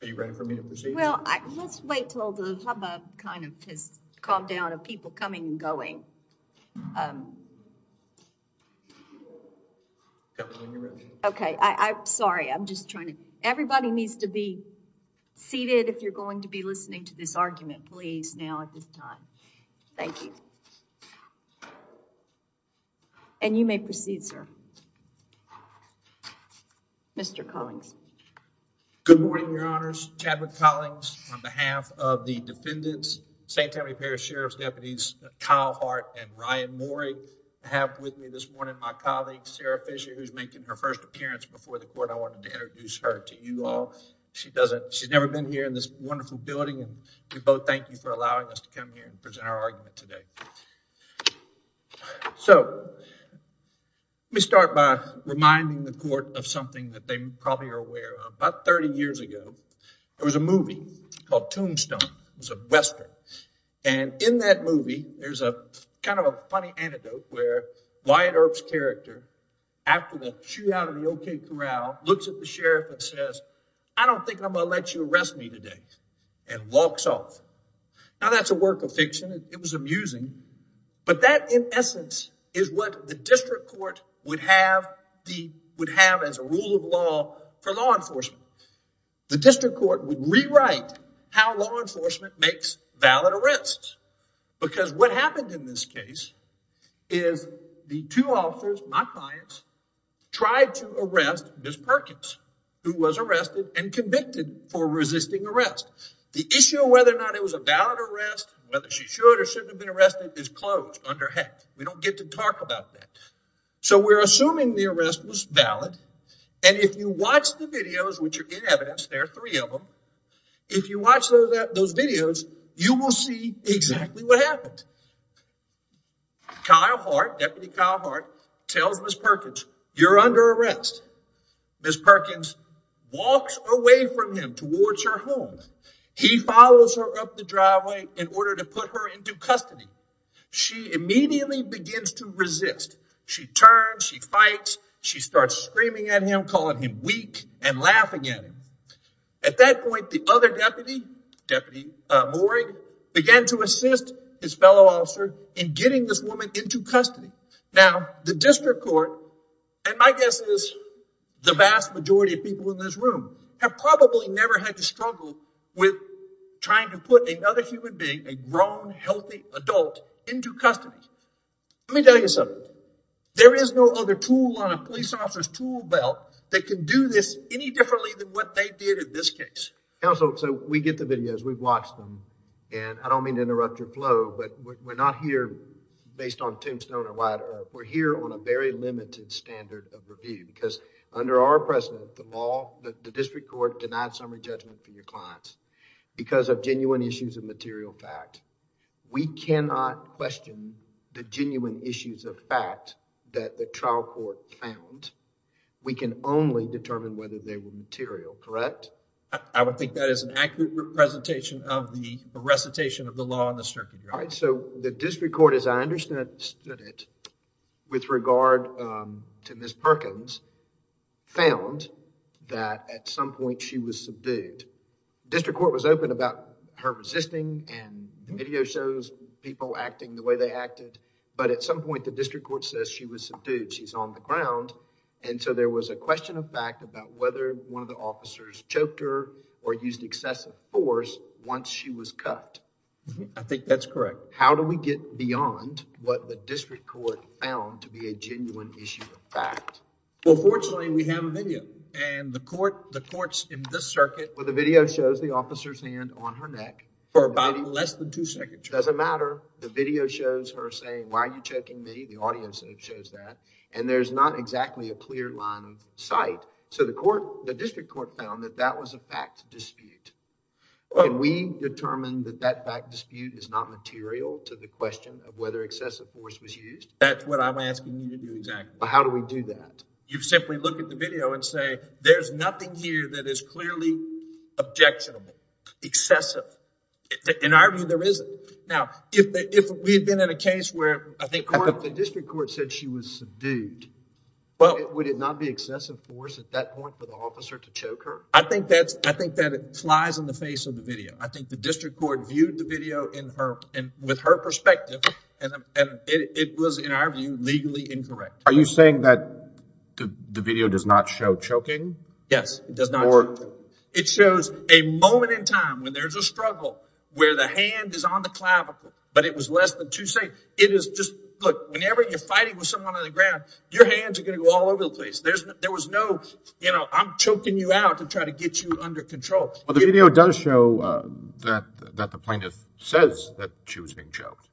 Are you ready for me to proceed? Well, let's wait till the hubbub kind of has calmed down of people coming and going. Okay, I'm sorry. I'm just trying to everybody needs to be seated if you're going to be listening to this argument please now at this time. Thank you. And you may proceed, sir. Mr. Collings. Good morning, your honors. Chadwick Collings on behalf of the defendants, same-time repair sheriff's deputies Kyle Hart and Ryan Morey. I have with me this morning my colleague Sarah Fisher who's making her first appearance before the court. I wanted to introduce her to you all. She's never been here in this wonderful building and we both thank you for allowing us to come here and present our argument today. So let me start by reminding the court of something that they probably are aware of. About 30 years ago, there was a movie called Tombstone. It was a western and in that movie, there's a kind of a funny anecdote where Wyatt Earp's character after the shootout of the O.K. Corral looks at the sheriff and says, I don't think I'm going to let you arrest me today and walks off. Now that's a work of fiction. It for law enforcement. The district court would rewrite how law enforcement makes valid arrests because what happened in this case is the two officers, my clients, tried to arrest Ms. Perkins who was arrested and convicted for resisting arrest. The issue of whether or not it was a valid arrest, whether she should or shouldn't have been arrested is closed under HECC. We don't get to talk about that. So we're assuming the arrest was valid and if you watch the videos, which are in evidence, there are three of them, if you watch those videos, you will see exactly what happened. Kyle Hart, Deputy Kyle Hart, tells Ms. Perkins, you're under arrest. Ms. Perkins walks away from him towards her home. He follows her up the immediately begins to resist. She turns, she fights, she starts screaming at him, calling him weak and laughing at him. At that point, the other deputy, Deputy Mooring, began to assist his fellow officer in getting this woman into custody. Now the district court, and my guess is the vast majority of people in this room, have probably never had to struggle with trying to put another human being, a grown healthy adult, into custody. Let me tell you something. There is no other tool on a police officer's tool belt that can do this any differently than what they did in this case. Counsel, so we get the videos, we've watched them, and I don't mean to interrupt your flow, but we're not here based on tombstone or wide earth. We're here on a very limited standard of review because under our precedent, the law, the district court denied summary judgment for your clients because of genuine issues of material fact. We cannot question the genuine issues of fact that the trial court found. We can only determine whether they were material, correct? I would think that is an accurate representation of the recitation of the law in the circuit. All right, so the district court, as I understood it, with regard to Ms. Perkins, found that at some point she was subdued. District court was open about her resisting, and the video shows people acting the way they acted, but at some point the district court says she was subdued. She's on the ground, and so there was a question of fact about whether one of the officers choked her or used excessive force once she was cut. I think that's correct. How do we get beyond what the district court found to be a genuine issue of fact? Well, fortunately, we have a video, and the court, the court's in this circuit. Well, the video shows the officer's hand on her neck. For about less than two seconds. Doesn't matter. The video shows her saying, why are you choking me? The audio shows that, and there's not exactly a clear line of sight. So the court, the district court found that that was a fact dispute, and we determined that that fact dispute is not material to the question of whether excessive force was used. That's what I'm asking you to do exactly. How do we do that? You simply look at the video and say, there's nothing here that is clearly objectionable, excessive. In our view, there isn't. Now, if we had been in a case where I think the district court said she was subdued, would it not be excessive force at that point for the officer to choke her? I think that's, I think that it flies in the face of the video. I think the district court viewed the video in her, and with her perspective, and it was, in our view, legally incorrect. Are you saying that the video does not show choking? Yes, it does not. It shows a moment in time when there's a struggle, where the hand is on the clavicle, but it was less than too safe. It is just, look, whenever you're fighting with someone on the ground, your hands are going to go all over the place. There was no, you know, I'm choking you out to try to get you under control. Well, the video does show that the plaintiff says that she was being choked.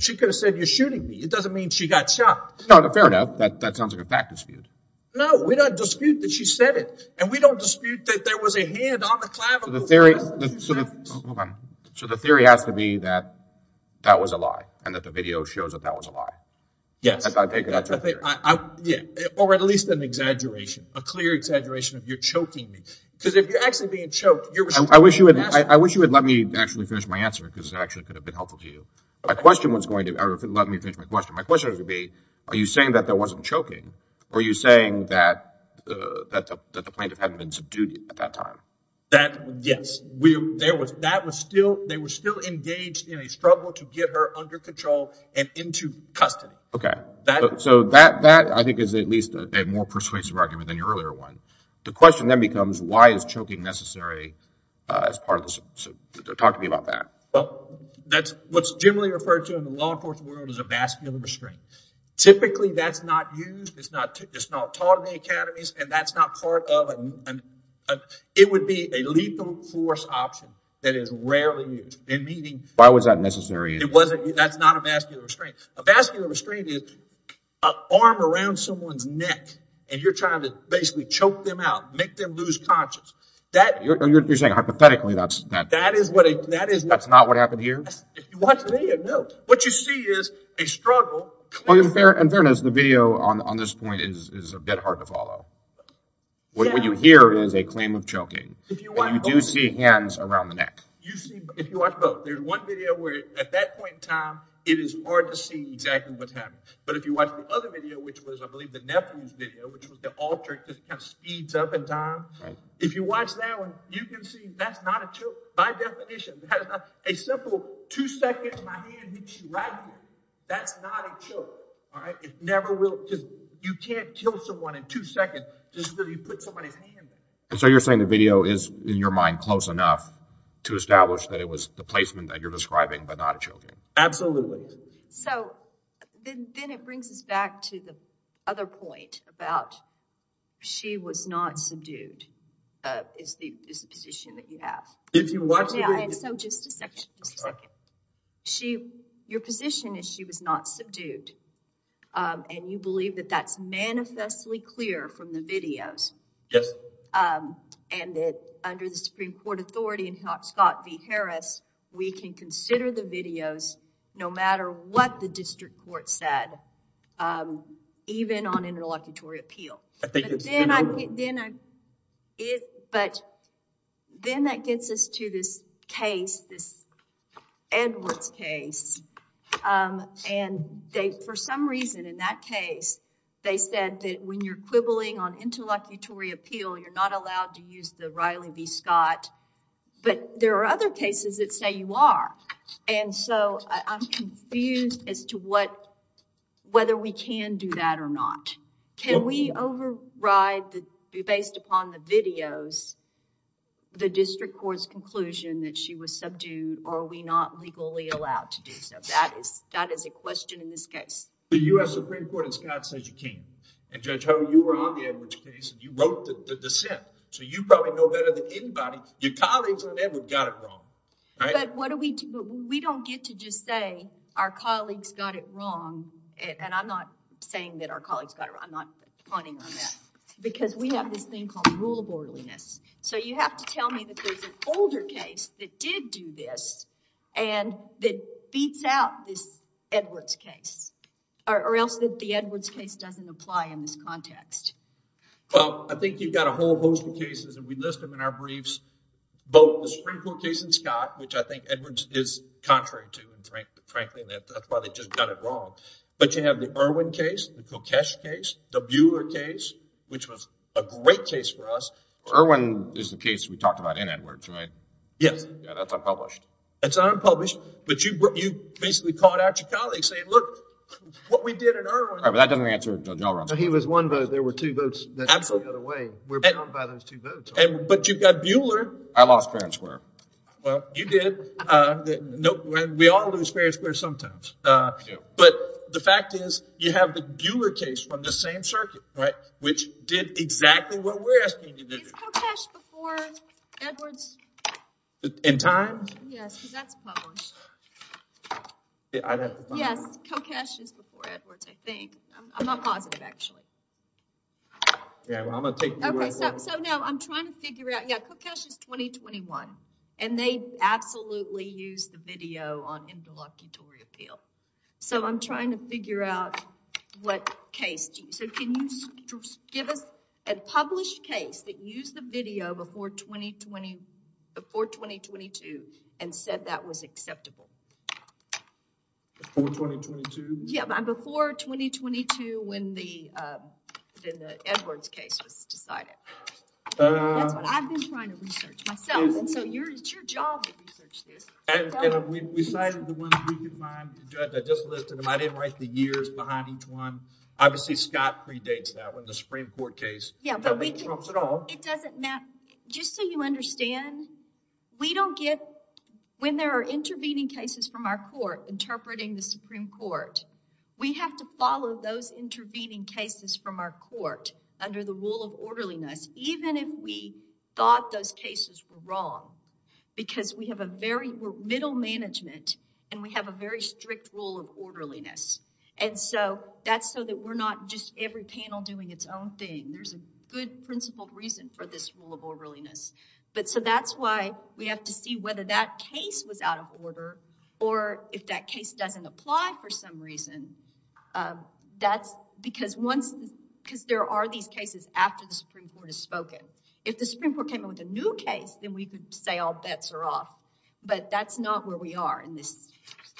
She could have said, you're shooting me. It doesn't mean she got shot. No, fair enough. That sounds like a fact dispute. No, we don't dispute that she said it, and we don't dispute that there was a hand on the clavicle. So the theory has to be that that was a lie, and that the video shows that that was a lie. Yes. Yeah, or at least an exaggeration, a clear exaggeration of you're choking me. Because if you're actually being choked, you're responsible for the answer. I wish you would let me actually finish my answer, because it actually could have been helpful to you. My question was going to, or if you'd let me finish my question, my question was going to be, are you saying that there wasn't choking? Or are you saying that the plaintiff hadn't been subdued at that time? Yes. They were still engaged in a struggle to get her under control and into custody. Okay. So that, I think, is at least a more persuasive argument than your earlier one. The question then becomes, why is choking necessary as part of this? Talk to me about that. That's what's generally referred to in the law enforcement world as a vascular restraint. Typically, that's not used. It's not taught in the academies, and that's not part of it. It would be a lethal force option that is rarely used. And meaning, why was that necessary? It wasn't. That's not a vascular restraint. A vascular restraint is an arm around someone's neck, and you're trying to basically choke them out, make them lose conscience. You're saying, hypothetically, that's... That's not what happened here? If you watch the video, no. What you see is a struggle. In fairness, the video on this point is a bit hard to follow. What you hear is a claim of choking, and you do see hands around the neck. If you watch both, there's one video where at that point in time, it is hard to see exactly what's happening. But if you watch the other video, which was, I believe, the nephew's video, which was the alter, it just kind of speeds up in time. If you watch that one, you can see that's not a choke. By definition, that's a simple two-second, my hand hits you right here. That's not a choke, all right? It never will... You can't kill someone in two seconds just because you put somebody's hand... And so you're saying the video is, in your mind, close enough to establish that it was the placement that you're describing, but not a choking? Absolutely. So then it brings us back to the other point about, she was not subdued, is the position that you have. If you watch the video... Yeah, and so just a second, just a second. Your position is she was not subdued, and you believe that that's manifestly clear from the videos. Yes. And that under the Supreme Court authority and Scott v. Harris, we can consider the videos no matter what the district court said, even on interlocutory appeal. But then that gets us to this case, this Edwards case. And they, for some reason in that case, they said that when you're quibbling on interlocutory appeal, you're not allowed to use the Riley v. Scott. But there are other cases that say you are. And so, I'm confused as to whether we can do that or not. Can we override, based upon the videos, the district court's conclusion that she was subdued, or are we not legally allowed to do so? That is a question in this case. The U.S. Supreme Court in Scott says you can't. And Judge Hogan, you were on the Edwards case, and you wrote the dissent. So you probably know better than anybody, your colleagues on Edwards got it wrong. But what do we do? But we don't get to just say our colleagues got it wrong. And I'm not saying that our colleagues got it wrong. I'm not pointing on that. Because we have this thing called rule of orderliness. So you have to tell me that there's an older case that did do this and that beats out this Edwards case. Or else the Edwards case doesn't apply in this context. Well, I think you've got a whole host of cases, and we list them in our briefs. Both the Supreme Court case in Scott, which I think Edwards is contrary to, frankly, and that's why they just got it wrong. But you have the Irwin case, the Kokesh case, the Buhler case, which was a great case for us. Irwin is the case we talked about in Edwards, right? Yes. Yeah, that's unpublished. It's unpublished. But you basically called out your colleagues saying, look, what we did in Irwin. All right, but that doesn't answer Judge O'Rourke. He was one vote. There were two votes that got away. We're bound by those two votes. But you've got Buhler. I lost fair and square. Well, you did. We all lose fair and square sometimes. But the fact is, you have the Buhler case from the same circuit, right? Which did exactly what we're asking you to do. Is Kokesh before Edwards? In time? Yes, because that's published. Yes, Kokesh is before Edwards, I think. I'm not positive, actually. Yeah, well, I'm going to take you right away. So no, I'm trying to figure out. Kokesh is 2021, and they absolutely used the video on interlocutory appeal. So I'm trying to figure out what case. So can you give us a published case that used the video before 2022 and said that was acceptable? Before 2022? Yeah, before 2022 when the Edwards case was decided. That's what I've been trying to research myself. And so it's your job to research this. We cited the ones we could find. I just listed them. I didn't write the years behind each one. Obviously, Scott predates that one, the Supreme Court case. It doesn't matter. Just so you understand, we don't get, when there are intervening cases from our court interpreting the Supreme Court, we have to follow those intervening cases from our court under the rule of orderliness, even if we thought those cases were wrong. Because we have a very middle management and we have a very strict rule of orderliness. And so that's so that we're not just every panel doing its own thing. There's a good principled reason for this rule of orderliness. But so that's why we have to see whether that case was out of order or if that case doesn't apply for some reason. That's because once, because there are these cases after the Supreme Court has spoken. If the Supreme Court came up with a new case, then we could say all bets are off. But that's not where we are in this.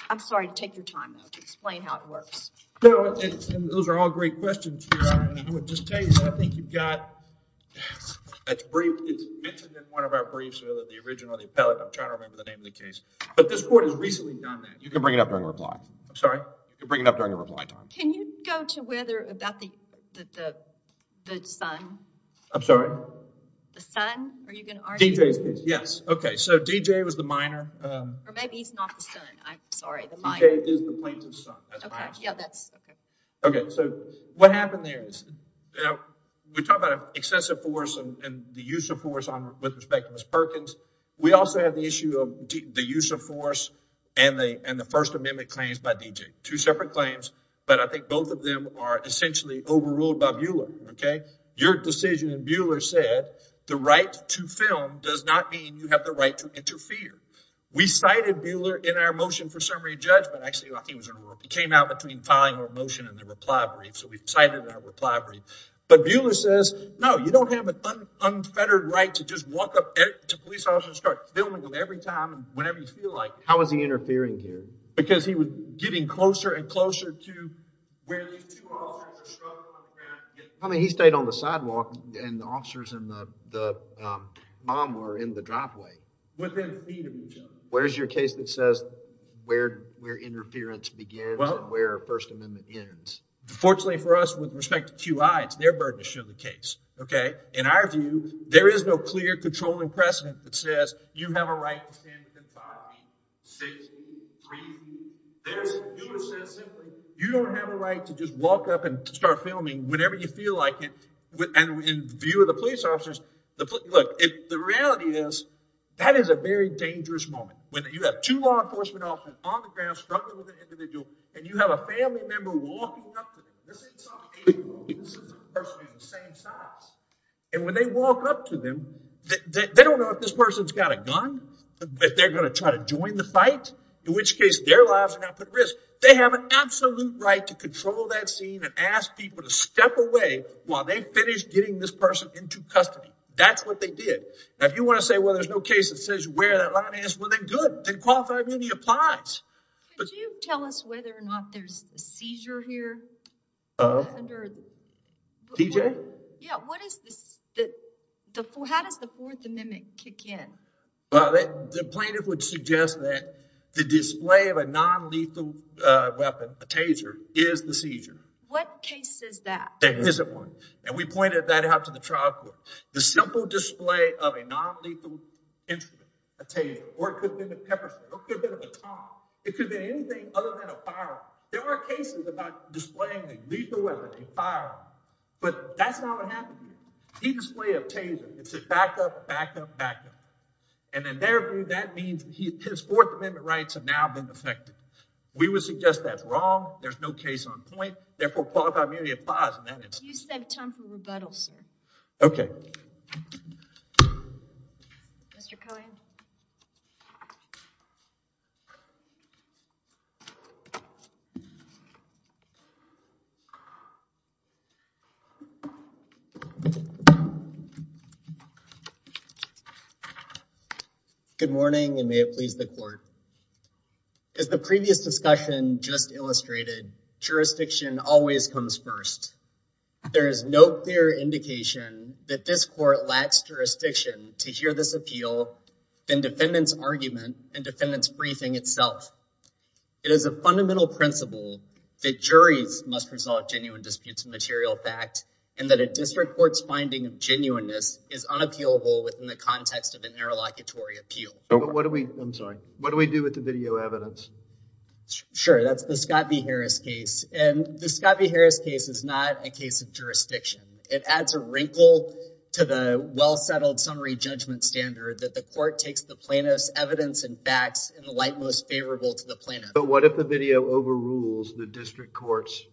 I'm sorry to take your time though to explain how it works. No, those are all great questions, Your Honor. And I would just tell you, I think you've got, that's brief, it's mentioned in one of our briefs, whether the original or the appellate. I'm trying to remember the name of the case. But this court has recently done that. You can bring it up during reply. I'm sorry? You can bring it up during your reply time. Can you go to whether about the son? I'm sorry? The son? Are you going to argue? DJ's case. Yes. Okay. So DJ was the minor. Or maybe he's not the son. I'm sorry, the minor. DJ is the plaintiff's son. That's my answer. Yeah, that's okay. Okay. So what happened there is, we talked about excessive force and the use of force with respect to Ms. Perkins. We also have the issue of the use of force and the First Amendment claims by DJ. Two separate claims, but I think both of them are essentially overruled by Buehler. Your decision, and Buehler said, the right to film does not mean you have the right to interfere. We cited Buehler in our motion for summary judgment. Actually, I think it came out between filing a motion and the reply brief. So we cited that reply brief. But Buehler says, no, you don't have an unfettered right to just walk up to police officers and start filming them every time and whenever you feel like it. How is he interfering here? Because he was getting closer and closer to where these two officers are struggling on the ground. I mean, he stayed on the sidewalk and the officers and the mom were in the driveway. Within feet of each other. Where's your case that says where interference begins and where First Amendment ends? Fortunately for us, with respect to QI, it's their burden to show the case, okay? In our view, there is no clear controlling precedent that says you have a right to stand within five feet, six feet, three feet. There's Buehler says simply, you don't have a right to just walk up and start filming whenever you feel like it. And in view of the police officers, the reality is that is a very dangerous moment. When you have two law enforcement officers on the ground struggling with an individual and you have a family member walking up to them. This isn't some eight-year-old. This is a person of the same size. And when they walk up to them, they don't know if this person's got a gun, if they're going to try to join the fight, in which case their lives are not put at risk. They have an absolute right to control that scene and ask people to step away while they finish getting this person into custody. That's what they did. Now, if you want to say, well, there's no case that says where that line ends, well, then good. Then qualified immunity applies. Could you tell us whether or not there's a seizure here? TJ? Yeah, what is this? How does the Fourth Amendment kick in? Well, the plaintiff would suggest that the display of a non-lethal weapon, a taser, is the seizure. What case says that? The HIZZIT one. And we pointed that out to the trial court. The simple display of a non-lethal instrument, a taser, or it could have been a pepper spray, or it could have been a bomb. It could have been anything other than a firearm. There are cases about displaying a lethal weapon, a firearm. But that's not what happened here. He displayed a taser. It said back up, back up, back up. And in their view, that means his Fourth Amendment rights have now been affected. We would suggest that's wrong. There's no case on point. Therefore, qualified immunity applies in that instance. You said temper rebuttal, sir. Okay. Mr. Cohen? Good morning, and may it please the court. As the previous discussion just illustrated, jurisdiction always comes first. There is no clear indication that this court lacks jurisdiction to hear this appeal than defendant's argument and defendant's briefing itself. It is a fundamental principle that juries must resolve genuine disputes of material fact, and that a district court's finding of genuineness is unappealable within the context of an interlocutory appeal. I'm sorry. What do we do with the video evidence? Sure. That's the Scott v. Harris case. And the Scott v. Harris case is not a case of jurisdiction. It adds a wrinkle to the well-settled summary judgment standard that the court takes the plaintiff's evidence and facts in the light most favorable to the plaintiff. What if the video overrules the district court's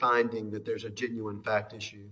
finding that there's a genuine fact issue?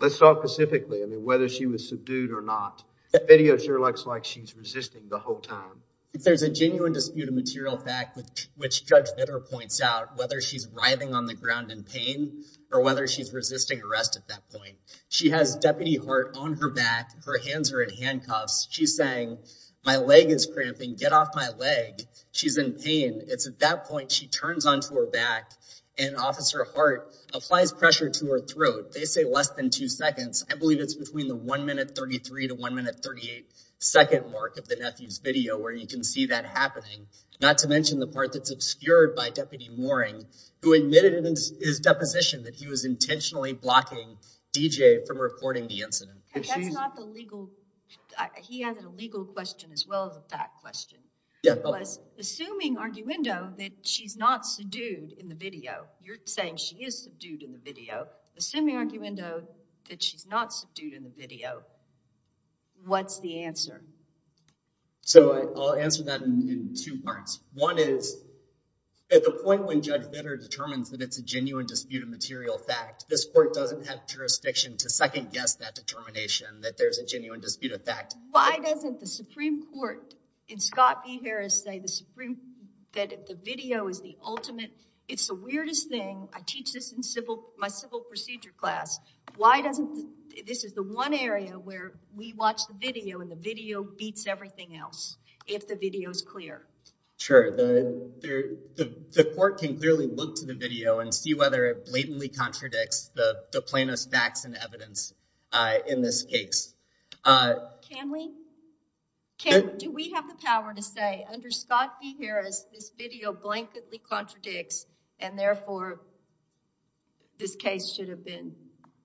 Let's talk specifically, I mean, whether she was subdued or not. The video sure looks like she's resisting the whole time. If there's a genuine dispute of material fact, which Judge Vitter points out, whether she's writhing on the ground in pain or whether she's resisting arrest at that point. She has deputy Hart on her back. Her hands are in handcuffs. She's saying, my leg is cramping. Get off my leg. She's in pain. It's at that point she turns onto her back and Officer Hart applies pressure to her throat. They say less than two seconds. I believe it's between the one minute 33 to one minute 38 second mark of the nephew's video where you can see that happening. Not to mention the part that's obscured by Deputy Mooring, who admitted in his deposition that he was intentionally blocking D.J. from reporting the incident. He has a legal question as well as a fact question. Assuming arguendo that she's not subdued in the video, you're saying she is subdued in the video. Assuming arguendo that she's not subdued in the video, what's the answer? So I'll answer that in two parts. One is at the point when Judge Vitter determines that it's a genuine dispute of material fact, this court doesn't have jurisdiction to second guess that determination that there's a genuine dispute of fact. Why doesn't the Supreme Court in Scott B. Harris say that the video is the ultimate, it's the weirdest thing. I teach this in my civil procedure class. Why doesn't, this is the one area where we watch the video and the video beats everything else, if the video is clear. Sure, the court can clearly look to the video and see whether it blatantly contradicts the plaintiff's facts and evidence in this case. Can we, do we have the power to say under Scott B. Harris, this video blankedly contradicts and therefore this case should have been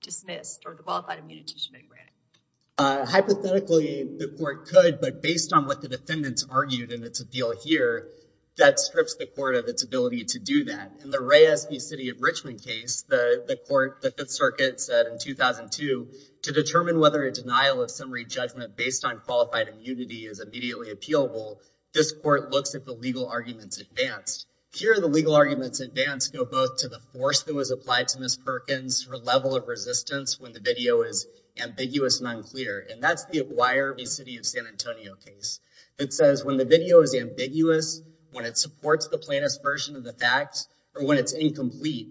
dismissed or qualified immunity should be granted? Hypothetically, the court could, but based on what the defendants argued and it's a deal here, that strips the court of its ability to do that. In the Reyes v. City of Richmond case, the court, the Fifth Circuit said in 2002 to determine whether a denial of summary judgment based on qualified immunity is immediately appealable. This court looks at the legal arguments advanced. Here, the legal arguments advanced go both to the force that was applied to Ms. Perkins or level of resistance when the video is ambiguous and unclear. And that's the Aguirre v. City of San Antonio case. It says when the video is ambiguous, when it supports the plaintiff's version of the facts or when it's incomplete,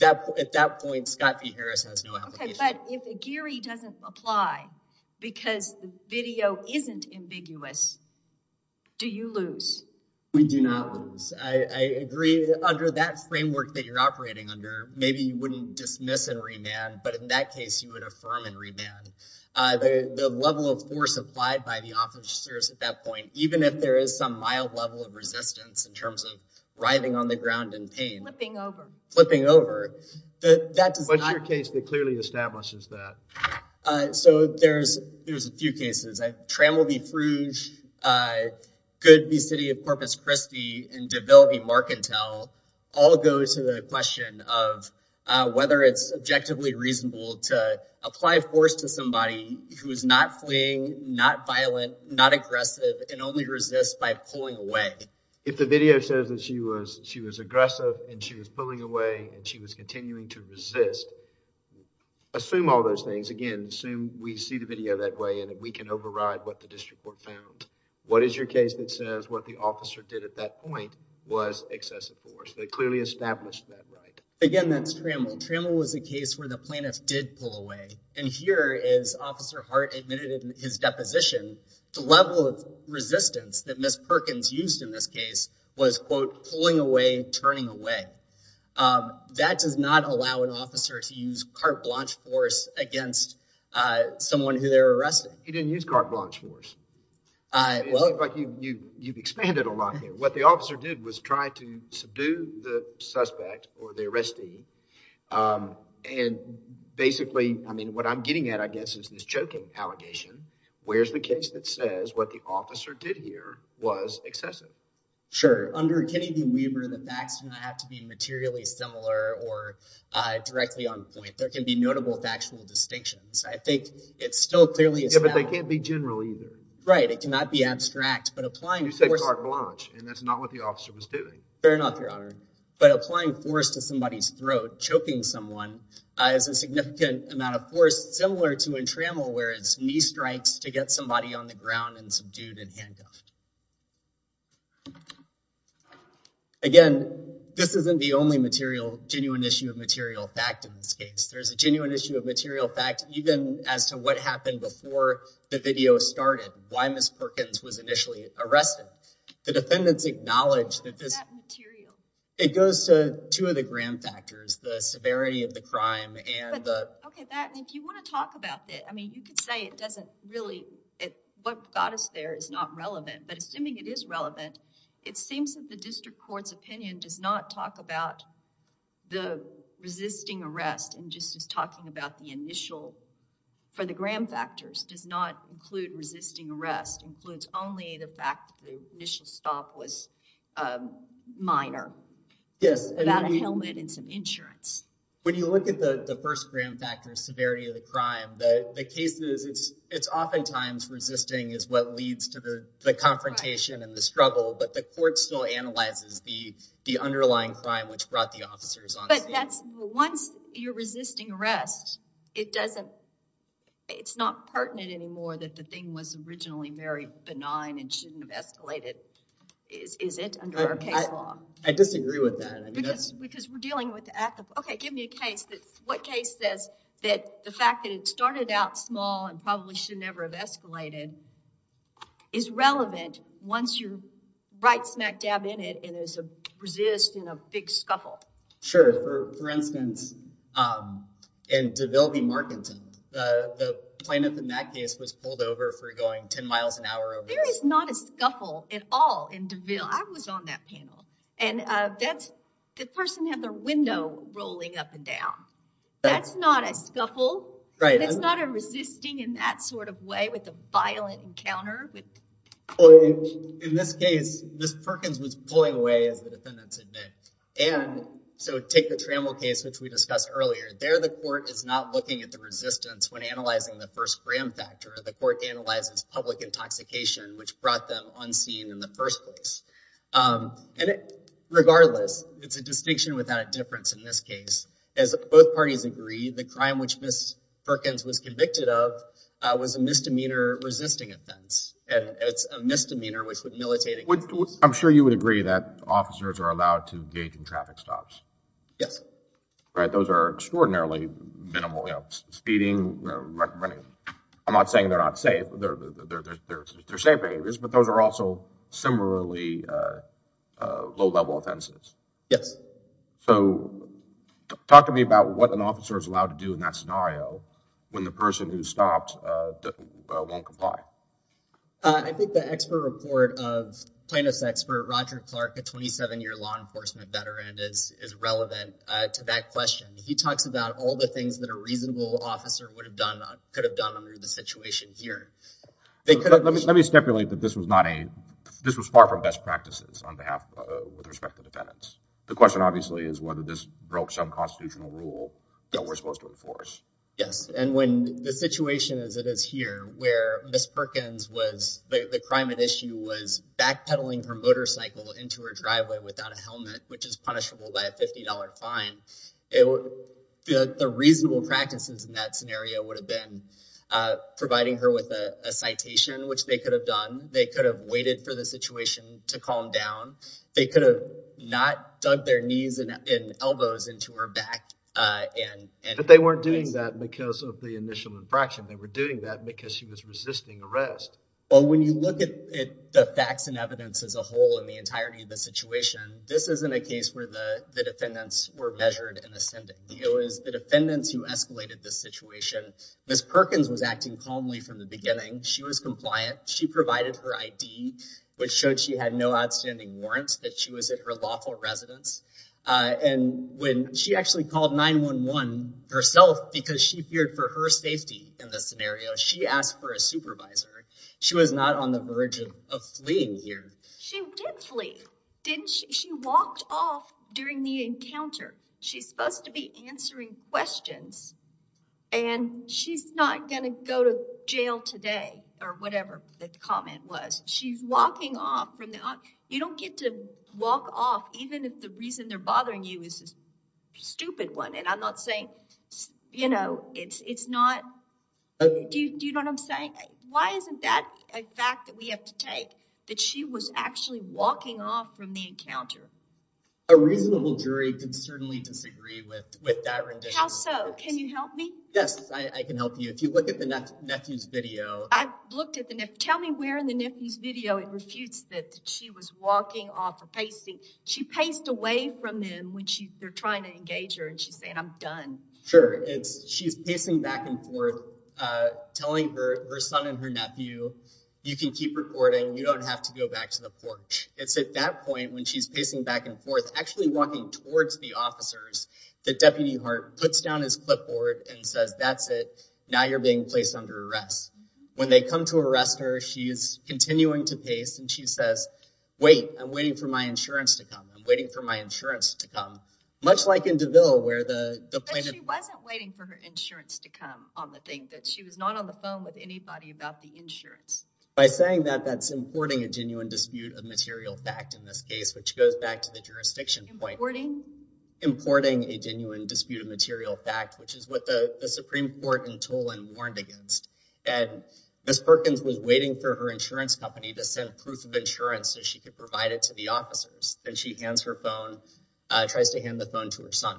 at that point, Scott B. Harris has no application. But if Aguirre doesn't apply because the video isn't ambiguous, do you lose? We do not lose. I agree under that framework that you're operating under, maybe you wouldn't dismiss and remand, but in that case, you would affirm and remand. The level of force applied by the officers at that point, even if there is some mild level of resistance in terms of writhing on the ground in pain. Flipping over. Flipping over. What's your case that clearly establishes that? So there's a few cases. Trammell v. Frouge, Good v. City of Corpus Christi, and DeVille v. Marcantel all go to the question of whether it's objectively reasonable to apply force to somebody who is not fleeing, not violent, not aggressive, and only resists by pulling away. If the video says that she was aggressive and she was pulling away and she was continuing to resist, assume all those things. Again, assume we see the video that way and that we can override what the district court found. What is your case that says what the officer did at that point was excessive force? They clearly established that, right? Again, that's Trammell. Trammell was a case where the plaintiff did pull away, and here is Officer Hart admitted in his deposition the level of resistance that Ms. Perkins used in this case was, quote, pulling away, turning away. That does not allow an officer to use carte blanche force against someone who they're arresting. He didn't use carte blanche force. It looks like you've expanded a lot here. What the officer did was try to subdue the suspect or the arrestee, and basically, I mean, what I'm getting at, I guess, is this choking allegation. Where's the case that says what the officer did here was excessive? Sure. Under Kennedy v. Weaver, the facts do not have to be materially similar or directly on point. There can be notable factual distinctions. I think it's still clearly established. But they can't be general either. Right. It cannot be abstract, but applying force. You said carte blanche, and that's not what the officer was doing. Fair enough, Your Honor. But applying force to somebody's throat, choking someone, is a significant amount of force similar to in Trammell, where it's knee strikes to get somebody on the ground and subdued and handcuffed. Again, this isn't the only genuine issue of material fact in this case. There's a genuine issue of material fact, even as to what happened before the video started, why Ms. Perkins was initially arrested. The defendants acknowledged that this- What is that material? It goes to two of the grand factors, the severity of the crime and the- OK, and if you want to talk about that, I mean, you could say it doesn't really, what got us there is not relevant. But assuming it is relevant, it seems that the district court's opinion does not talk about the resisting arrest and just is talking about the initial- for the grand factors, does not include resisting arrest, includes only the fact that the initial stop was minor. Yes, and- Without a helmet and some insurance. When you look at the first grand factor, severity of the crime, the case is it's oftentimes resisting is what leads to the confrontation and the struggle, but the court still analyzes the underlying crime, which brought the officers on scene. But that's- Once you're resisting arrest, it doesn't- It's not pertinent anymore that the thing was originally very benign and shouldn't have escalated, is it, under our case law? I disagree with that. Because we're dealing with the act of- OK, give me a case that- What case says that the fact that it started out small and probably should never have escalated, is relevant once you're right smack dab in it and there's a resist and a big scuffle. Sure, for instance, in DeVille v. Markington, the plane at the MAC case was pulled over for going 10 miles an hour over- There is not a scuffle at all in DeVille. I was on that panel. And that's- The person had their window rolling up and down. That's not a scuffle. Right. And it's not a resisting in that sort of way with a violent encounter. Well, in this case, Ms. Perkins was pulling away, as the defendants admit. And so take the Trammell case, which we discussed earlier. There, the court is not looking at the resistance when analyzing the first gram factor. The court analyzes public intoxication, which brought them unseen in the first place. And regardless, it's a distinction without a difference in this case. As both parties agree, the crime which Ms. Perkins was convicted of was a misdemeanor resisting offense. And it's a misdemeanor which would militate against- I'm sure you would agree that officers are allowed to engage in traffic stops. Yes. Right. Those are extraordinarily minimal speeding. I'm not saying they're not safe. They're safe behaviors, but those are also similarly low-level offenses. Yes. So talk to me about what an officer is allowed to do in that scenario when the person who stopped won't comply. I think the expert report of Plano's expert, Roger Clark, a 27-year law enforcement veteran, is relevant to that question. He talks about all the things that a reasonable officer would have done, could have done under the situation here. Let me stipulate that this was not a- this was far from best practices on behalf, with respect to defendants. The question, obviously, is whether this broke some constitutional rule that we're supposed to enforce. Yes. And when the situation as it is here, where Ms. Perkins was- the crime at issue was backpedaling her motorcycle into her driveway without a helmet, which is punishable by a $50 fine, the reasonable practices in that scenario would have been providing her with a citation, which they could have done. They could have waited for the situation to calm down. They could have not dug their knees and elbows into her back and- But they weren't doing that because of the initial infraction. They were doing that because she was resisting arrest. Well, when you look at the facts and evidence as a whole and the entirety of the situation, this isn't a case where the defendants were measured in ascendancy. It was the defendants who escalated this situation. Ms. Perkins was acting calmly from the beginning. She was compliant. She provided her ID, which showed she had no outstanding warrants, that she was at her lawful residence. And when- Herself, because she feared for her safety in this scenario, she asked for a supervisor. She was not on the verge of fleeing here. She did flee, didn't she? She walked off during the encounter. She's supposed to be answering questions and she's not going to go to jail today or whatever the comment was. She's walking off from the- You don't get to walk off even if the reason they're bothering you is a stupid one. And I'm not saying, you know, it's not- Do you know what I'm saying? Why isn't that a fact that we have to take, that she was actually walking off from the encounter? A reasonable jury can certainly disagree with that rendition. How so? Can you help me? Yes, I can help you. If you look at the nephew's video- I looked at the nephew- Tell me where in the nephew's video it refutes that she was walking off or pacing. She paced away from him when they're trying to engage her and she's saying, I'm done. Sure, she's pacing back and forth telling her son and her nephew, you can keep recording. You don't have to go back to the porch. It's at that point when she's pacing back and forth, actually walking towards the officers that Deputy Hart puts down his clipboard and says, that's it. Now you're being placed under arrest. When they come to arrest her, she's continuing to pace and she says, wait, I'm waiting for my insurance to come. I'm waiting for my insurance to come. Much like in DeVille where the plaintiff- But she wasn't waiting for her insurance to come on the thing, that she was not on the phone with anybody about the insurance. By saying that, that's importing a genuine dispute of material fact in this case, which goes back to the jurisdiction point. Importing? Importing a genuine dispute of material fact, which is what the Supreme Court in Toland warned against. And Ms. Perkins was waiting for her insurance company to send proof of insurance so she could provide it to the officers. Then she hands her phone, tries to hand the phone to her son.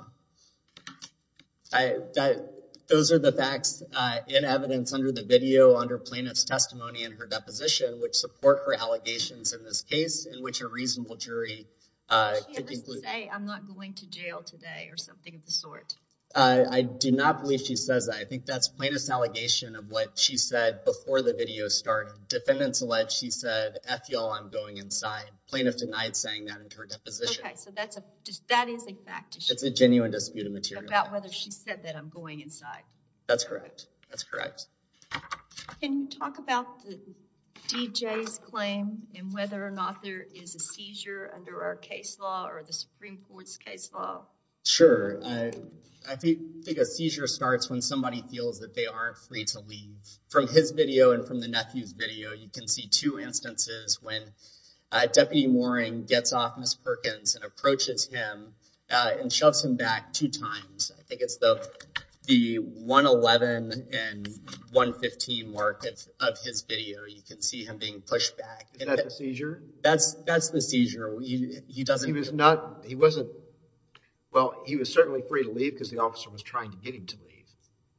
Those are the facts in evidence under the video, under plaintiff's testimony in her deposition, which support her allegations in this case, in which a reasonable jury- She had this to say, I'm not going to jail today or something of the sort. I do not believe she says that. I think that's plaintiff's allegation of what she said before the video started. Defendants alleged she said, eff y'all, I'm going inside. Plaintiff denied saying that in her deposition. So that's a- That is a fact. It's a genuine dispute of material fact. About whether she said that I'm going inside. That's correct. That's correct. Can you talk about the DJ's claim and whether or not there is a seizure under our case law or the Supreme Court's case law? Sure. I think a seizure starts when somebody feels that they aren't free to leave. From his video and from the nephew's video, you can see two instances when Deputy Mooring gets off Ms. Perkins and approaches him and shoves him back two times. I think it's the 111 and 115 mark of his video. You can see him being pushed back. Is that the seizure? That's the seizure. He doesn't- He was not- He wasn't- Well, he was certainly free to leave because the officer was trying to get him to leave.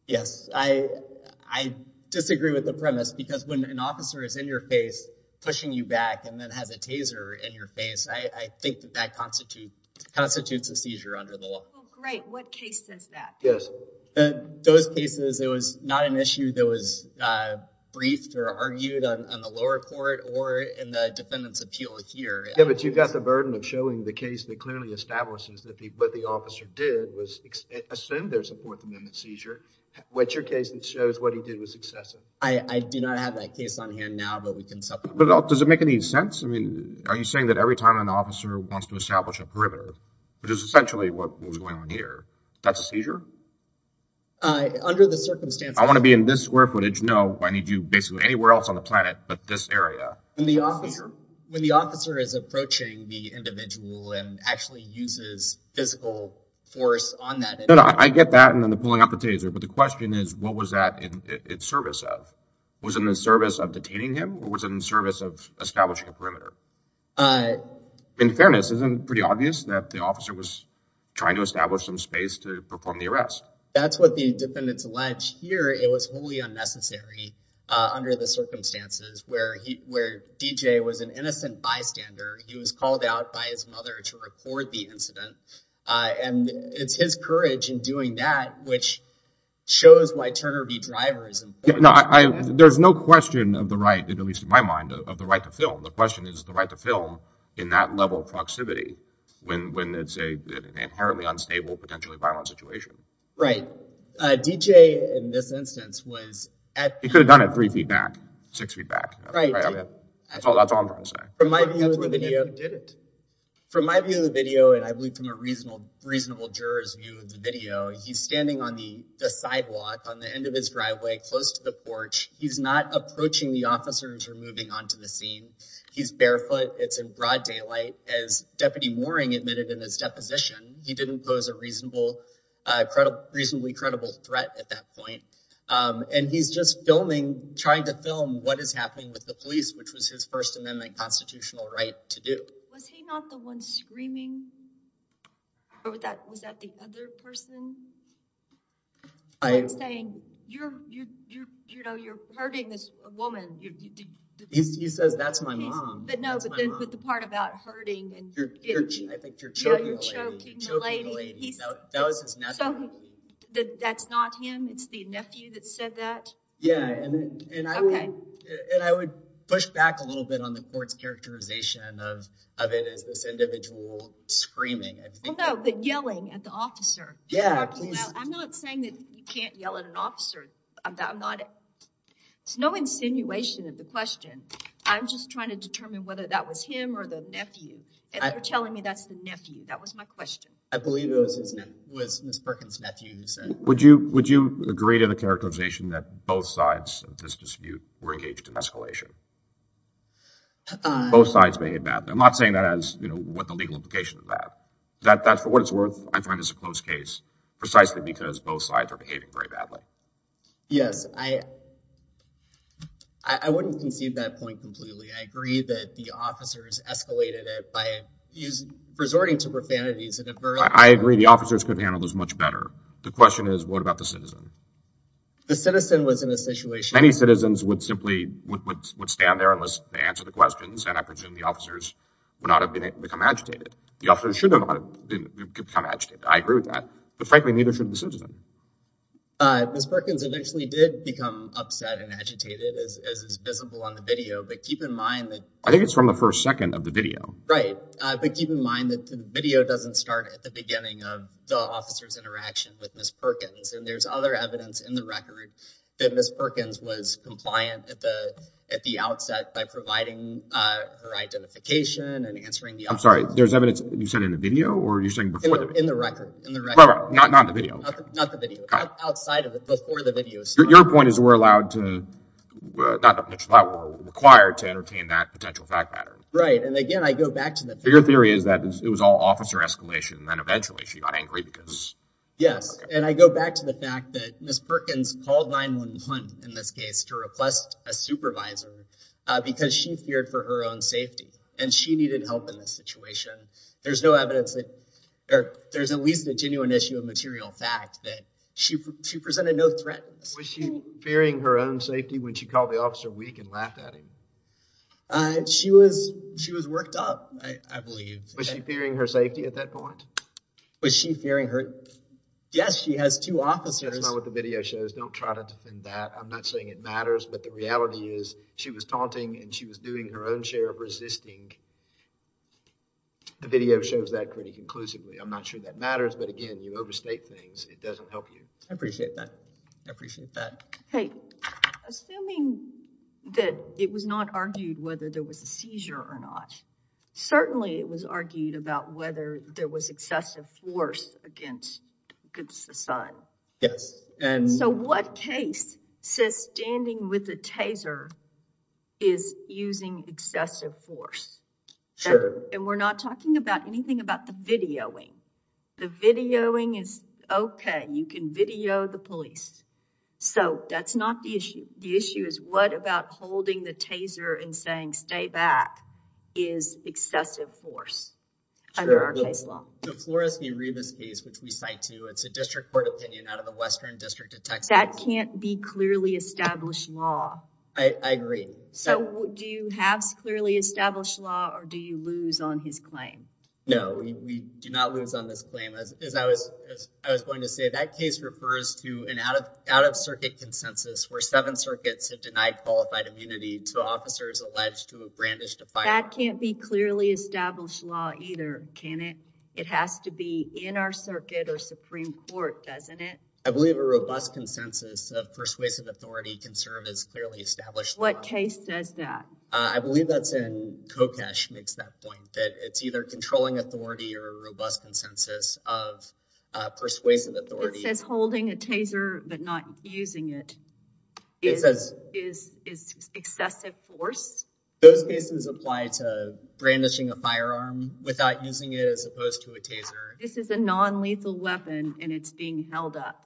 Yes. I disagree with the premise because when an officer is in your face pushing you back and then has a taser in your face, I think that that constitutes a seizure under the law. Oh, great. What case says that? Yes. Those cases, it was not an issue that was briefed or argued on the lower court or in the defendant's appeal here. Yeah, but you've got the burden of showing the case that clearly establishes that what the officer did was assume there's a Fourth Amendment seizure. What's your case that shows what he did was excessive? I do not have that case on hand now, but we can supplement that. Does it make any sense? Are you saying that every time an officer wants to establish a perimeter, which is essentially what was going on here, that's a seizure? Under the circumstances- I want to be in this square footage. No, I need you basically anywhere else on the planet, but this area. When the officer is approaching the individual and actually uses physical force on that individual- I get that and then pulling out the taser, but the question is what was that in service of? Was it in the service of detaining him or was it in service of establishing a perimeter? In fairness, isn't it pretty obvious that the officer was trying to establish some space to perform the arrest? That's what the defendants allege here. It was wholly unnecessary under the circumstances where DJ was an innocent bystander. He was called out by his mother to record the incident. And it's his courage in doing that which shows why Turner v. Driver is important. No, there's no question of the right at least in my mind of the right to film. The question is the right to film in that level of proximity when it's an inherently unstable, potentially violent situation. Right. DJ in this instance was at- He could have done it three feet back, six feet back. That's all I'm trying to say. From my view of the video, and I believe from a reasonable juror's view of the video, he's standing on the sidewalk on the end of his driveway close to the porch. He's not approaching the officers or moving onto the scene. He's barefoot. It's in broad daylight as Deputy Mooring admitted in his deposition. He didn't pose a reasonable, reasonably credible threat at that point. And he's just filming, trying to film what is happening with the police, which was his First Amendment constitutional right to do. Was he not the one screaming? Was that the other person? I'm saying you're hurting this woman. He says, that's my mom. But no, but the part about hurting and- I think you're choking the lady. Yeah, you're choking the lady. That was his nephew. So that's not him? It's the nephew that said that? Yeah. And I would push back a little bit of it as this individual screaming. Well, no, the yelling at the officer. I'm not saying that you can't yell at an officer. It's no insinuation of the question. I'm just trying to determine whether that was him or the nephew. And they're telling me that's the nephew. That was my question. I believe it was Ms. Perkins' nephew who said- Would you agree to the characterization that both sides of this dispute were engaged in escalation? Both sides may have been. I'm not saying that as, you know, what the legal implication of that. That, for what it's worth, I find this a close case precisely because both sides are behaving very badly. Yes, I wouldn't concede that point completely. I agree that the officers escalated it by resorting to profanities. I agree the officers could handle this much better. The question is, what about the citizen? The citizen was in a situation- Many citizens would simply stand there and answer the questions. And I presume the officers would not have become agitated. The officers should have become agitated. I agree with that. But frankly, neither should the citizen. Ms. Perkins eventually did become upset and agitated, as is visible on the video. But keep in mind that- I think it's from the first second of the video. Right. But keep in mind that the video doesn't start at the beginning of the officer's interaction with Ms. Perkins. And there's other evidence in the record that Ms. Perkins was compliant at the outset by providing her identification and answering the- I'm sorry. There's evidence you said in the video? Or you're saying before the video? In the record. In the record. Not in the video. Not the video. Outside of it, before the video. Your point is we're allowed to- not allowed, but required to entertain that potential fact pattern. Right. And again, I go back to the- Your theory is that it was all officer escalation and then eventually she got angry because- Yes. And I go back to the fact that Ms. Perkins called 911 in this case to request a supervisor because she feared for her own safety and she needed help in this situation. There's no evidence that- or there's at least a genuine issue of material fact that she presented no threat. Was she fearing her own safety when she called the officer weak and laughed at him? She was worked up, I believe. Was she fearing her safety at that point? Was she fearing her- Yes, she has two officers. That's not what the video shows. Don't try to defend that. I'm not saying it matters, but the reality is she was taunting and she was doing her own share of resisting. The video shows that pretty conclusively. I'm not sure that matters, but again, you overstate things. It doesn't help you. I appreciate that. I appreciate that. Hey, assuming that it was not argued whether there was a seizure or not, certainly it was argued about whether there was excessive force against the son. Yes, and- So what case says standing with the taser is using excessive force? Sure. And we're not talking about anything about the videoing. The videoing is okay. You can video the police. So that's not the issue. The issue is what about holding the taser and saying stay back is excessive force under our case law. The Flores v. Rebus case, which we cite to, it's a district court opinion out of the Western District of Texas. That can't be clearly established law. I agree. So do you have clearly established law or do you lose on his claim? No, we do not lose on this claim. As I was going to say, that case refers to an out-of-circuit consensus where seven circuits have denied qualified immunity to officers alleged to have brandished a firearm. That can't be clearly established law either, can it? It has to be in our circuit or Supreme Court, doesn't it? I believe a robust consensus of persuasive authority concern is clearly established. What case says that? I believe that's in Kokesh makes that point that it's either controlling authority or a robust consensus of persuasive authority. It says holding a taser but not using it is excessive force. Those cases apply to brandishing a firearm without using it as opposed to a taser. This is a non-lethal weapon and it's being held up.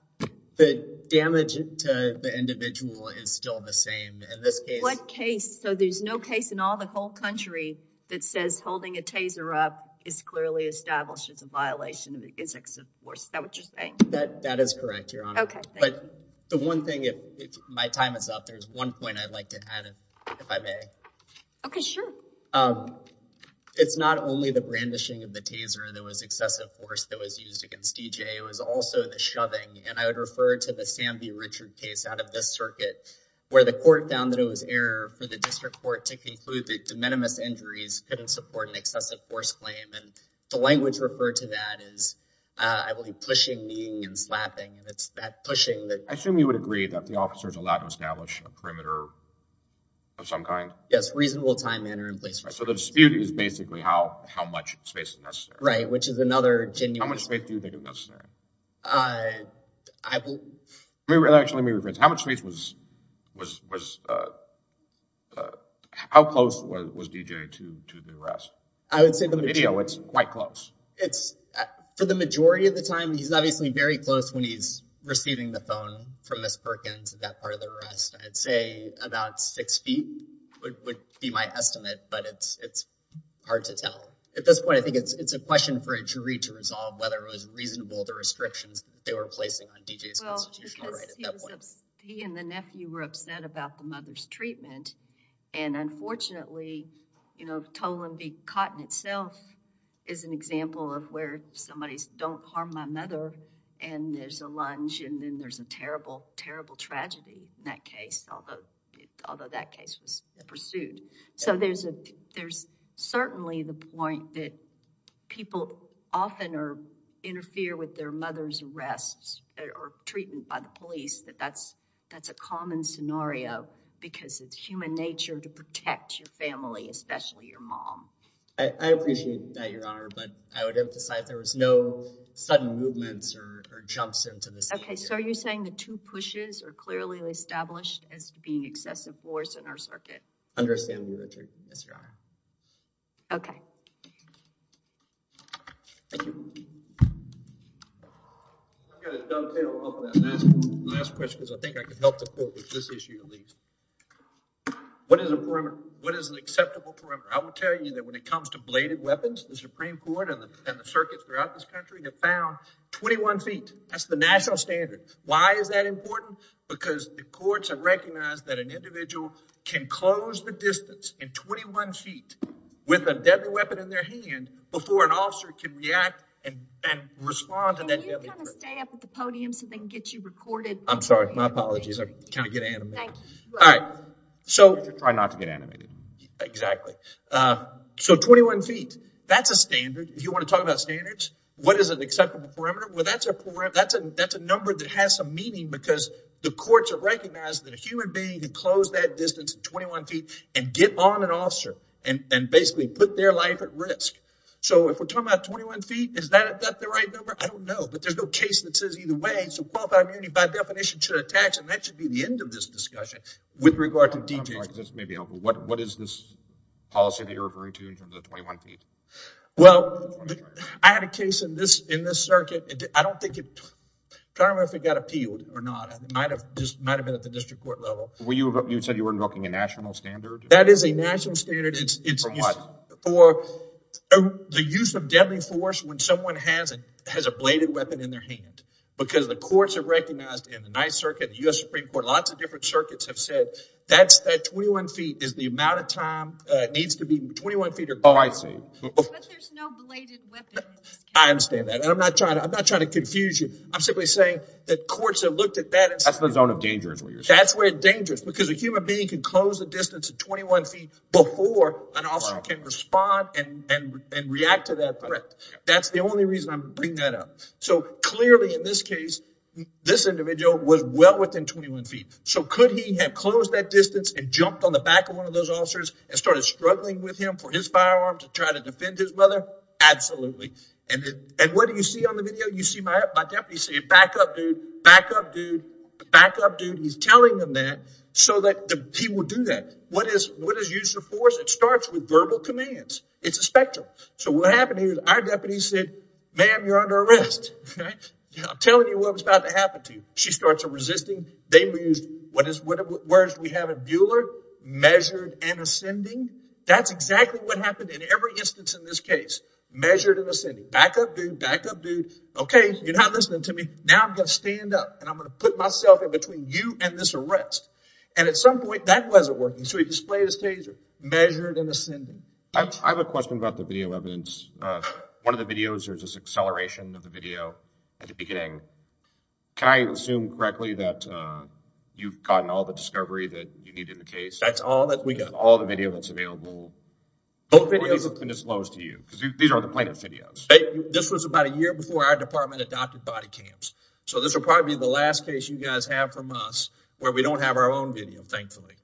The damage to the individual is still the same in this case. What case? So there's no case in all the whole country that says holding a taser up is clearly established as a violation of the excessive force. Is that what you're saying? That is correct, Your Honor. Okay. But the one thing if my time is up, there's one point I'd like to add if I may. Okay, sure. It's not only the brandishing of the taser that was excessive force that was used against D.J. It was also the shoving and I would refer to the Sam B. Richard case out of this circuit where the court found that it was error for the district court to conclude that de minimis injuries couldn't support an excessive force claim. And the language referred to that is, I believe, pushing, kneeing, and slapping. And it's that pushing that... I assume you would agree that the officers allowed to establish a perimeter of some kind? Yes, reasonable time, manner, and place. So the dispute is basically how much space is necessary. Right, which is another genuine... How much space do you think is necessary? I will... Actually, let me rephrase. How much space was... How close was D.J. to the arrest? I would say the majority... The video, it's quite close. It's... For the majority of the time, he's obviously very close when he's receiving the phone from Ms. Perkins at that part of the arrest. I'd say about six feet would be my estimate, but it's hard to tell. At this point, I think it's a question for a jury to resolve whether it was reasonable the restrictions they were placing on D.J.'s constitutional right at that point. He and the nephew were upset about the mother's treatment. And unfortunately, Toland v. Cotton itself is an example of where somebody's, don't harm my mother, and there's a lunge, and then there's a terrible, terrible tragedy in that case, although that case was pursued. So there's certainly the point that people often interfere with their mother's arrests or treatment by the police, that that's a common scenario because it's human nature to protect your family, especially your mom. I appreciate that, Your Honor, but I would emphasize there was no sudden movements or jumps into this. Okay, so are you saying the two pushes are clearly established as being excessive force in our circuit? Understandably, Your Honor. Okay. Thank you. I've got a dovetail on that last question because I think I can help the court with this issue at least. What is an acceptable perimeter? I will tell you that when it comes to bladed weapons, the Supreme Court and the circuits throughout this country have found 21 feet. That's the national standard. Why is that important? Because the courts have recognized that an individual can close the distance in 21 feet with a deadly weapon in their hand before an officer can react and respond to that deadly threat. Can you kind of stay up at the podium so they can get you recorded? I'm sorry. My apologies. I kind of get animated. Thank you. All right. Try not to get animated. Exactly. So 21 feet. That's a standard. If you want to talk about standards, what is an acceptable perimeter? Well, that's a number that has some meaning because the courts have recognized that a human being can close that distance in 21 feet and get on an officer and basically put their life at risk. So if we're talking about 21 feet, is that the right number? I don't know. But there's no case that says either way. So qualified immunity by definition should attach and that should be the end of this discussion. With regard to DJs. I'm sorry, this may be helpful. What is this policy that you're referring to in terms of 21 feet? Well, I had a case in this circuit. I don't think it... I can't remember if it got appealed or not. It might have been at the district court level. Well, you said you were invoking a national standard. That is a national standard. It's for the use of deadly force when someone has a bladed weapon in their hand because the courts have recognized in the 9th Circuit, the U.S. Supreme Court, lots of different circuits have said that's that 21 feet is the amount of time it needs to be 21 feet or less. Oh, I see. But there's no bladed weapon. I understand that. And I'm not trying to confuse you. I'm simply saying that courts have looked at that. That's the zone of danger is what you're saying. That's where it's dangerous because a human being can close the distance of 21 feet before an officer can respond and react to that threat. That's the only reason I'm bringing that up. So clearly in this case, this individual was well within 21 feet. So could he have closed that distance and jumped on the back of one of those officers and started struggling with him for his firearm to try to defend his brother? Absolutely. And what do you see on the video? You see my deputy saying, back up, dude. Back up, dude. Back up, dude. He's telling them that so that he will do that. What is use of force? It starts with verbal commands. It's a spectrum. So what happened here is our deputy said, ma'am, you're under arrest. I'm telling you what was about to happen to you. She starts resisting. They used what is, whereas we have a Bueller measured and ascending. That's exactly what happened in every instance in this case. Measured and ascending. Back up, dude. Back up, dude. OK, you're not listening to me. Now I'm going to stand up and I'm going to put myself in between you and this arrest. And at some point that wasn't working. So he displayed his taser measured and ascending. I have a question about the video evidence. One of the videos or just acceleration of the video at the beginning. Can I assume correctly that you've gotten all the discovery that you need in the case? That's all that we got. All the video that's available. Both videos have been as low as to you because these are the plaintiff's videos. This was about a year before our department adopted body cams. So this will probably be the last case you guys have from us where we don't have our own video. Thankfully,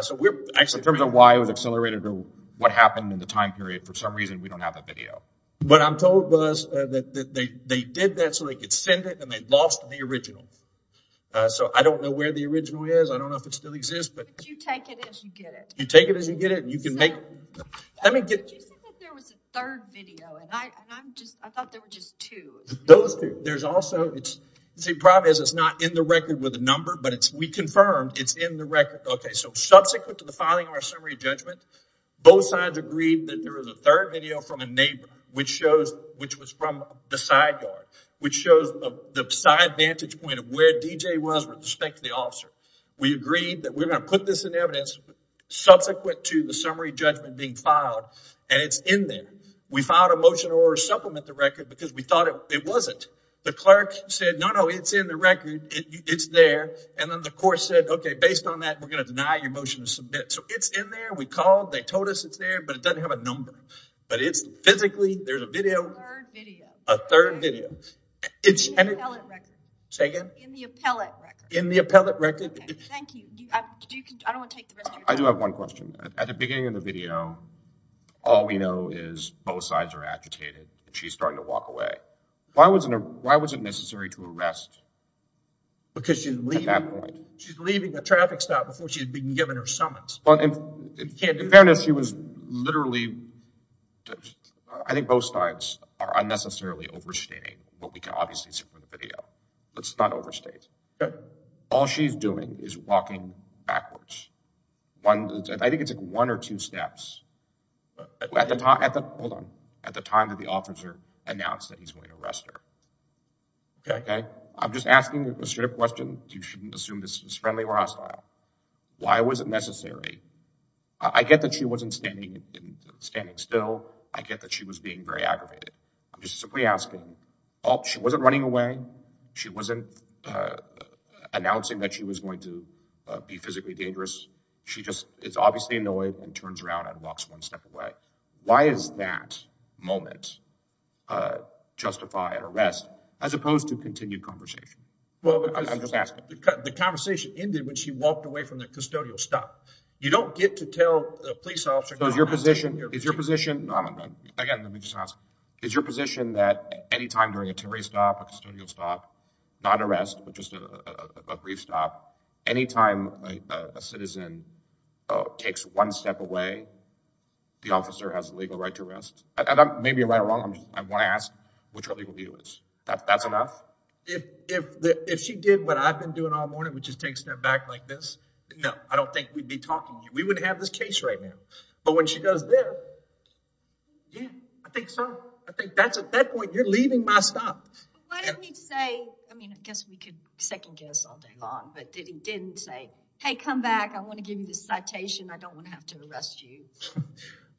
so we're actually in terms of why it was accelerated or what happened in the time period. For some reason, we don't have a video. What I'm told was that they did that so they could send it and they lost the original. So I don't know where the original is. I don't know if it still exists. But you take it as you get it. You take it as you get it and you can make let me get. You said that there was a third video and I thought there were just two. Those two. There's also it's the problem is it's not in the record with a number, but it's we confirmed it's in the record. OK, so subsequent to the filing of our summary judgment, both sides agreed that there was a third video from a neighbor, which shows which was from the side yard, which shows the side vantage point of where DJ was with respect to the officer. We agreed that we're going to put this in evidence subsequent to the summary judgment being filed and it's in there. We filed a motion to supplement the record because we thought it wasn't. The clerk said, no, no, it's in the record. It's there. And then the court said, OK, based on that, we're going to deny your motion to submit. So it's in there. We called. They told us it's there, but it doesn't have a number. But it's physically there's a video. A third video. It's in the appellate record. In the appellate record. I do have one question. At the beginning of the video, all we know is both sides are agitated. She's starting to walk away. Why was it? Why was it necessary to arrest? Because you leave at that point, she's leaving the traffic stop before she had been given her summons. But in fairness, literally, I think both sides are unnecessarily overstating what we can obviously see from the video. Let's not overstate. All she's doing is walking backwards. I think it's like one or two steps. At the time that the officer announced that he's going to arrest her. I'm just asking a straight question. You shouldn't assume this is friendly or hostile. Why was it necessary? I get that she wasn't standing still. I get that she was being very aggravated. I'm just simply asking. She wasn't running away. She wasn't announcing that she was going to be physically dangerous. She just is obviously annoyed and turns around and walks one step away. Why is that moment justified arrest as opposed to continued conversation? Well, I'm just asking. The conversation ended when she walked away from the custodial stop. You don't get to tell the police officer. So is your position, is your position, again, let me just ask, is your position that any time during a temporary stop, a custodial stop, not arrest, but just a brief stop, any time a citizen takes one step away, the officer has a legal right to arrest? And I may be right or wrong. I want to ask what your legal view is. That's enough? If she did what I've been doing all morning, which is take a step back like this. No, I don't think we'd be talking. We wouldn't have this case right now. But when she goes there. Yeah, I think so. I think that's at that point, you're leaving my stop. Why didn't he say, I mean, I guess we could second guess all day long, but he didn't say, hey, come back. I want to give you this citation. I don't want to have to arrest you.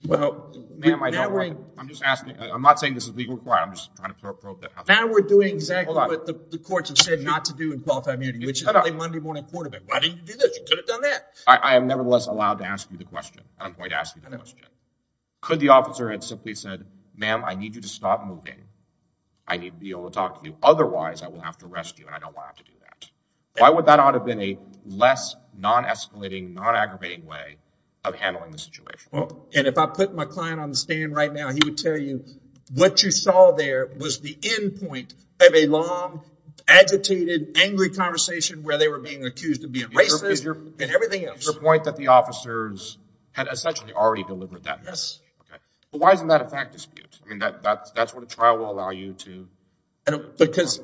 Well, ma'am, I don't. I'm just asking. I'm not saying this is legally required. I'm just trying to probe that. Now we're doing exactly what the courts have said not to do in qualified immunity, which is the Monday morning court event. Why didn't you do this? You could have done that. I am nevertheless allowed to ask you the question. I'm going to ask you that question. Could the officer had simply said, ma'am, I need you to stop moving. I need to be able to talk to you. Otherwise, I will have to arrest you and I don't want to do that. Why would that ought to be a less non escalating, non aggravating way of handling the situation? And if I put my client on the stand right now, he would tell you what you saw there was the end point of a long, agitated, angry conversation where they were being accused of being racist and everything else. Your point that the officers had essentially already delivered that. Yes. Why isn't that a fact dispute? I mean, that's what a trial will allow you to. Because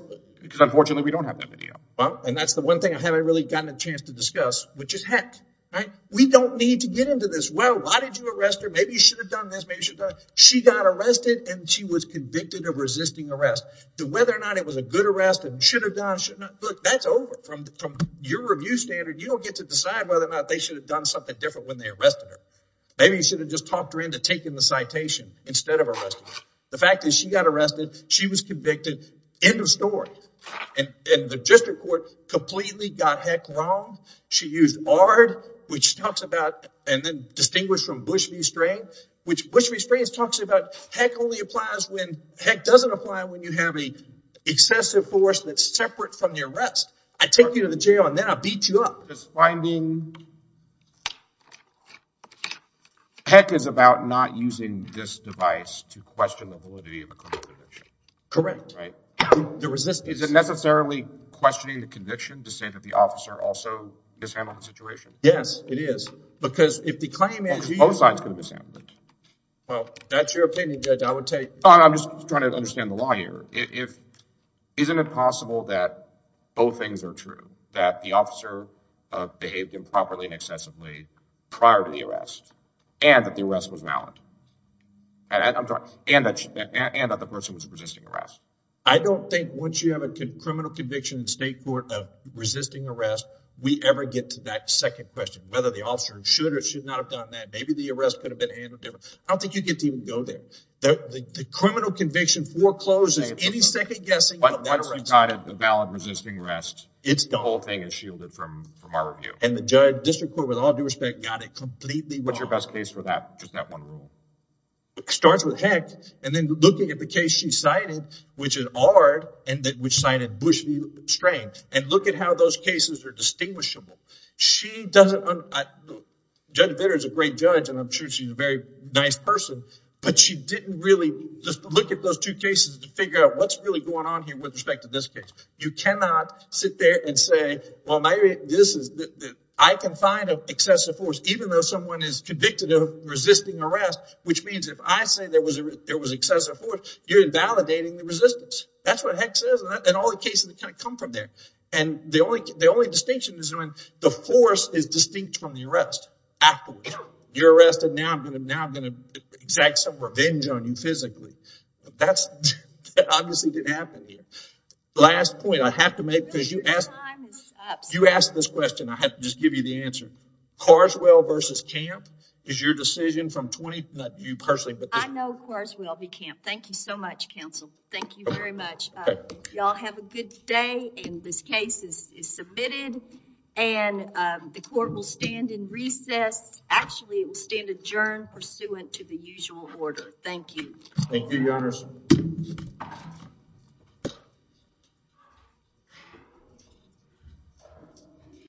unfortunately, we don't have that video. And that's the one thing I haven't really gotten a chance to discuss, which is heck, right? We don't need to get into this. Well, why did you arrest her? Maybe you should have done this. She got arrested and she was convicted of resisting arrest. Whether or not it was a good arrest and should have done, should not look that's over your review standard. You don't get to decide whether or not they should have done something different when they arrested her. Maybe you should have just talked her into taking the citation instead of arresting her. The fact is she got arrested. She was convicted. End of story. And the district court completely got heck wrong. She used ARD, which talks about and then distinguished from Bush v. String, which Bush v. String talks about heck only applies when heck doesn't apply when you have a excessive force that's separate from the arrest. I take you to the jail and then I beat you up. It's finding heck is about not using this device to question the validity of a criminal conviction. Correct. The resistance. Is it necessarily questioning the conviction to say that the officer also mishandled the situation? Yes, it is. Because if the claim is... Both sides can mishandle it. Well, that's your opinion, Judge. I would take... I'm just trying to understand the lawyer. Isn't it possible that both things are true? That the officer behaved improperly and excessively prior to the arrest and that the arrest was valid? And that the person was resisting arrest? I don't think once you have a criminal conviction in state court of resisting arrest, we ever get to that second question, whether the officer should or should not have done that. Maybe the arrest could have been handled differently. I don't think you get to even go there. The criminal conviction forecloses any second guessing. Once you've got it, the valid resisting arrest, the whole thing is shielded from our review. And the judge, District Court, with all due respect, got it completely wrong. What's your best case for that? Just that one rule. Starts with heck. And then looking at the case she cited, which is Ard, and which cited Bush v. Strang. And look at how those cases are distinguishable. Judge Vitter is a great judge and I'm sure she's a very nice person, but she didn't really... Just look at those two cases to figure out what's really going on here with respect to this case. You cannot sit there and say, well, maybe this is... I can find an excessive force, even though someone is convicted of resisting arrest, which means if I say there was excessive force, you're invalidating the resistance. That's what heck says. And all the cases that kind of come from there. And the only distinction is when the force is distinct from the arrest. After you're arrested, now I'm going to exact some revenge on you physically. That's obviously didn't happen here. Last point I have to make, because you asked this question, I have to just give you the answer. Carswell v. Camp is your decision from 20... Not you personally, but... I know Carswell v. Camp. Thank you so much, counsel. Thank you very much. Y'all have a good day. And this case is submitted and the court will stand in recess. Actually, it will stand adjourned pursuant to the usual order. Thank you. Thank you, Your Honors.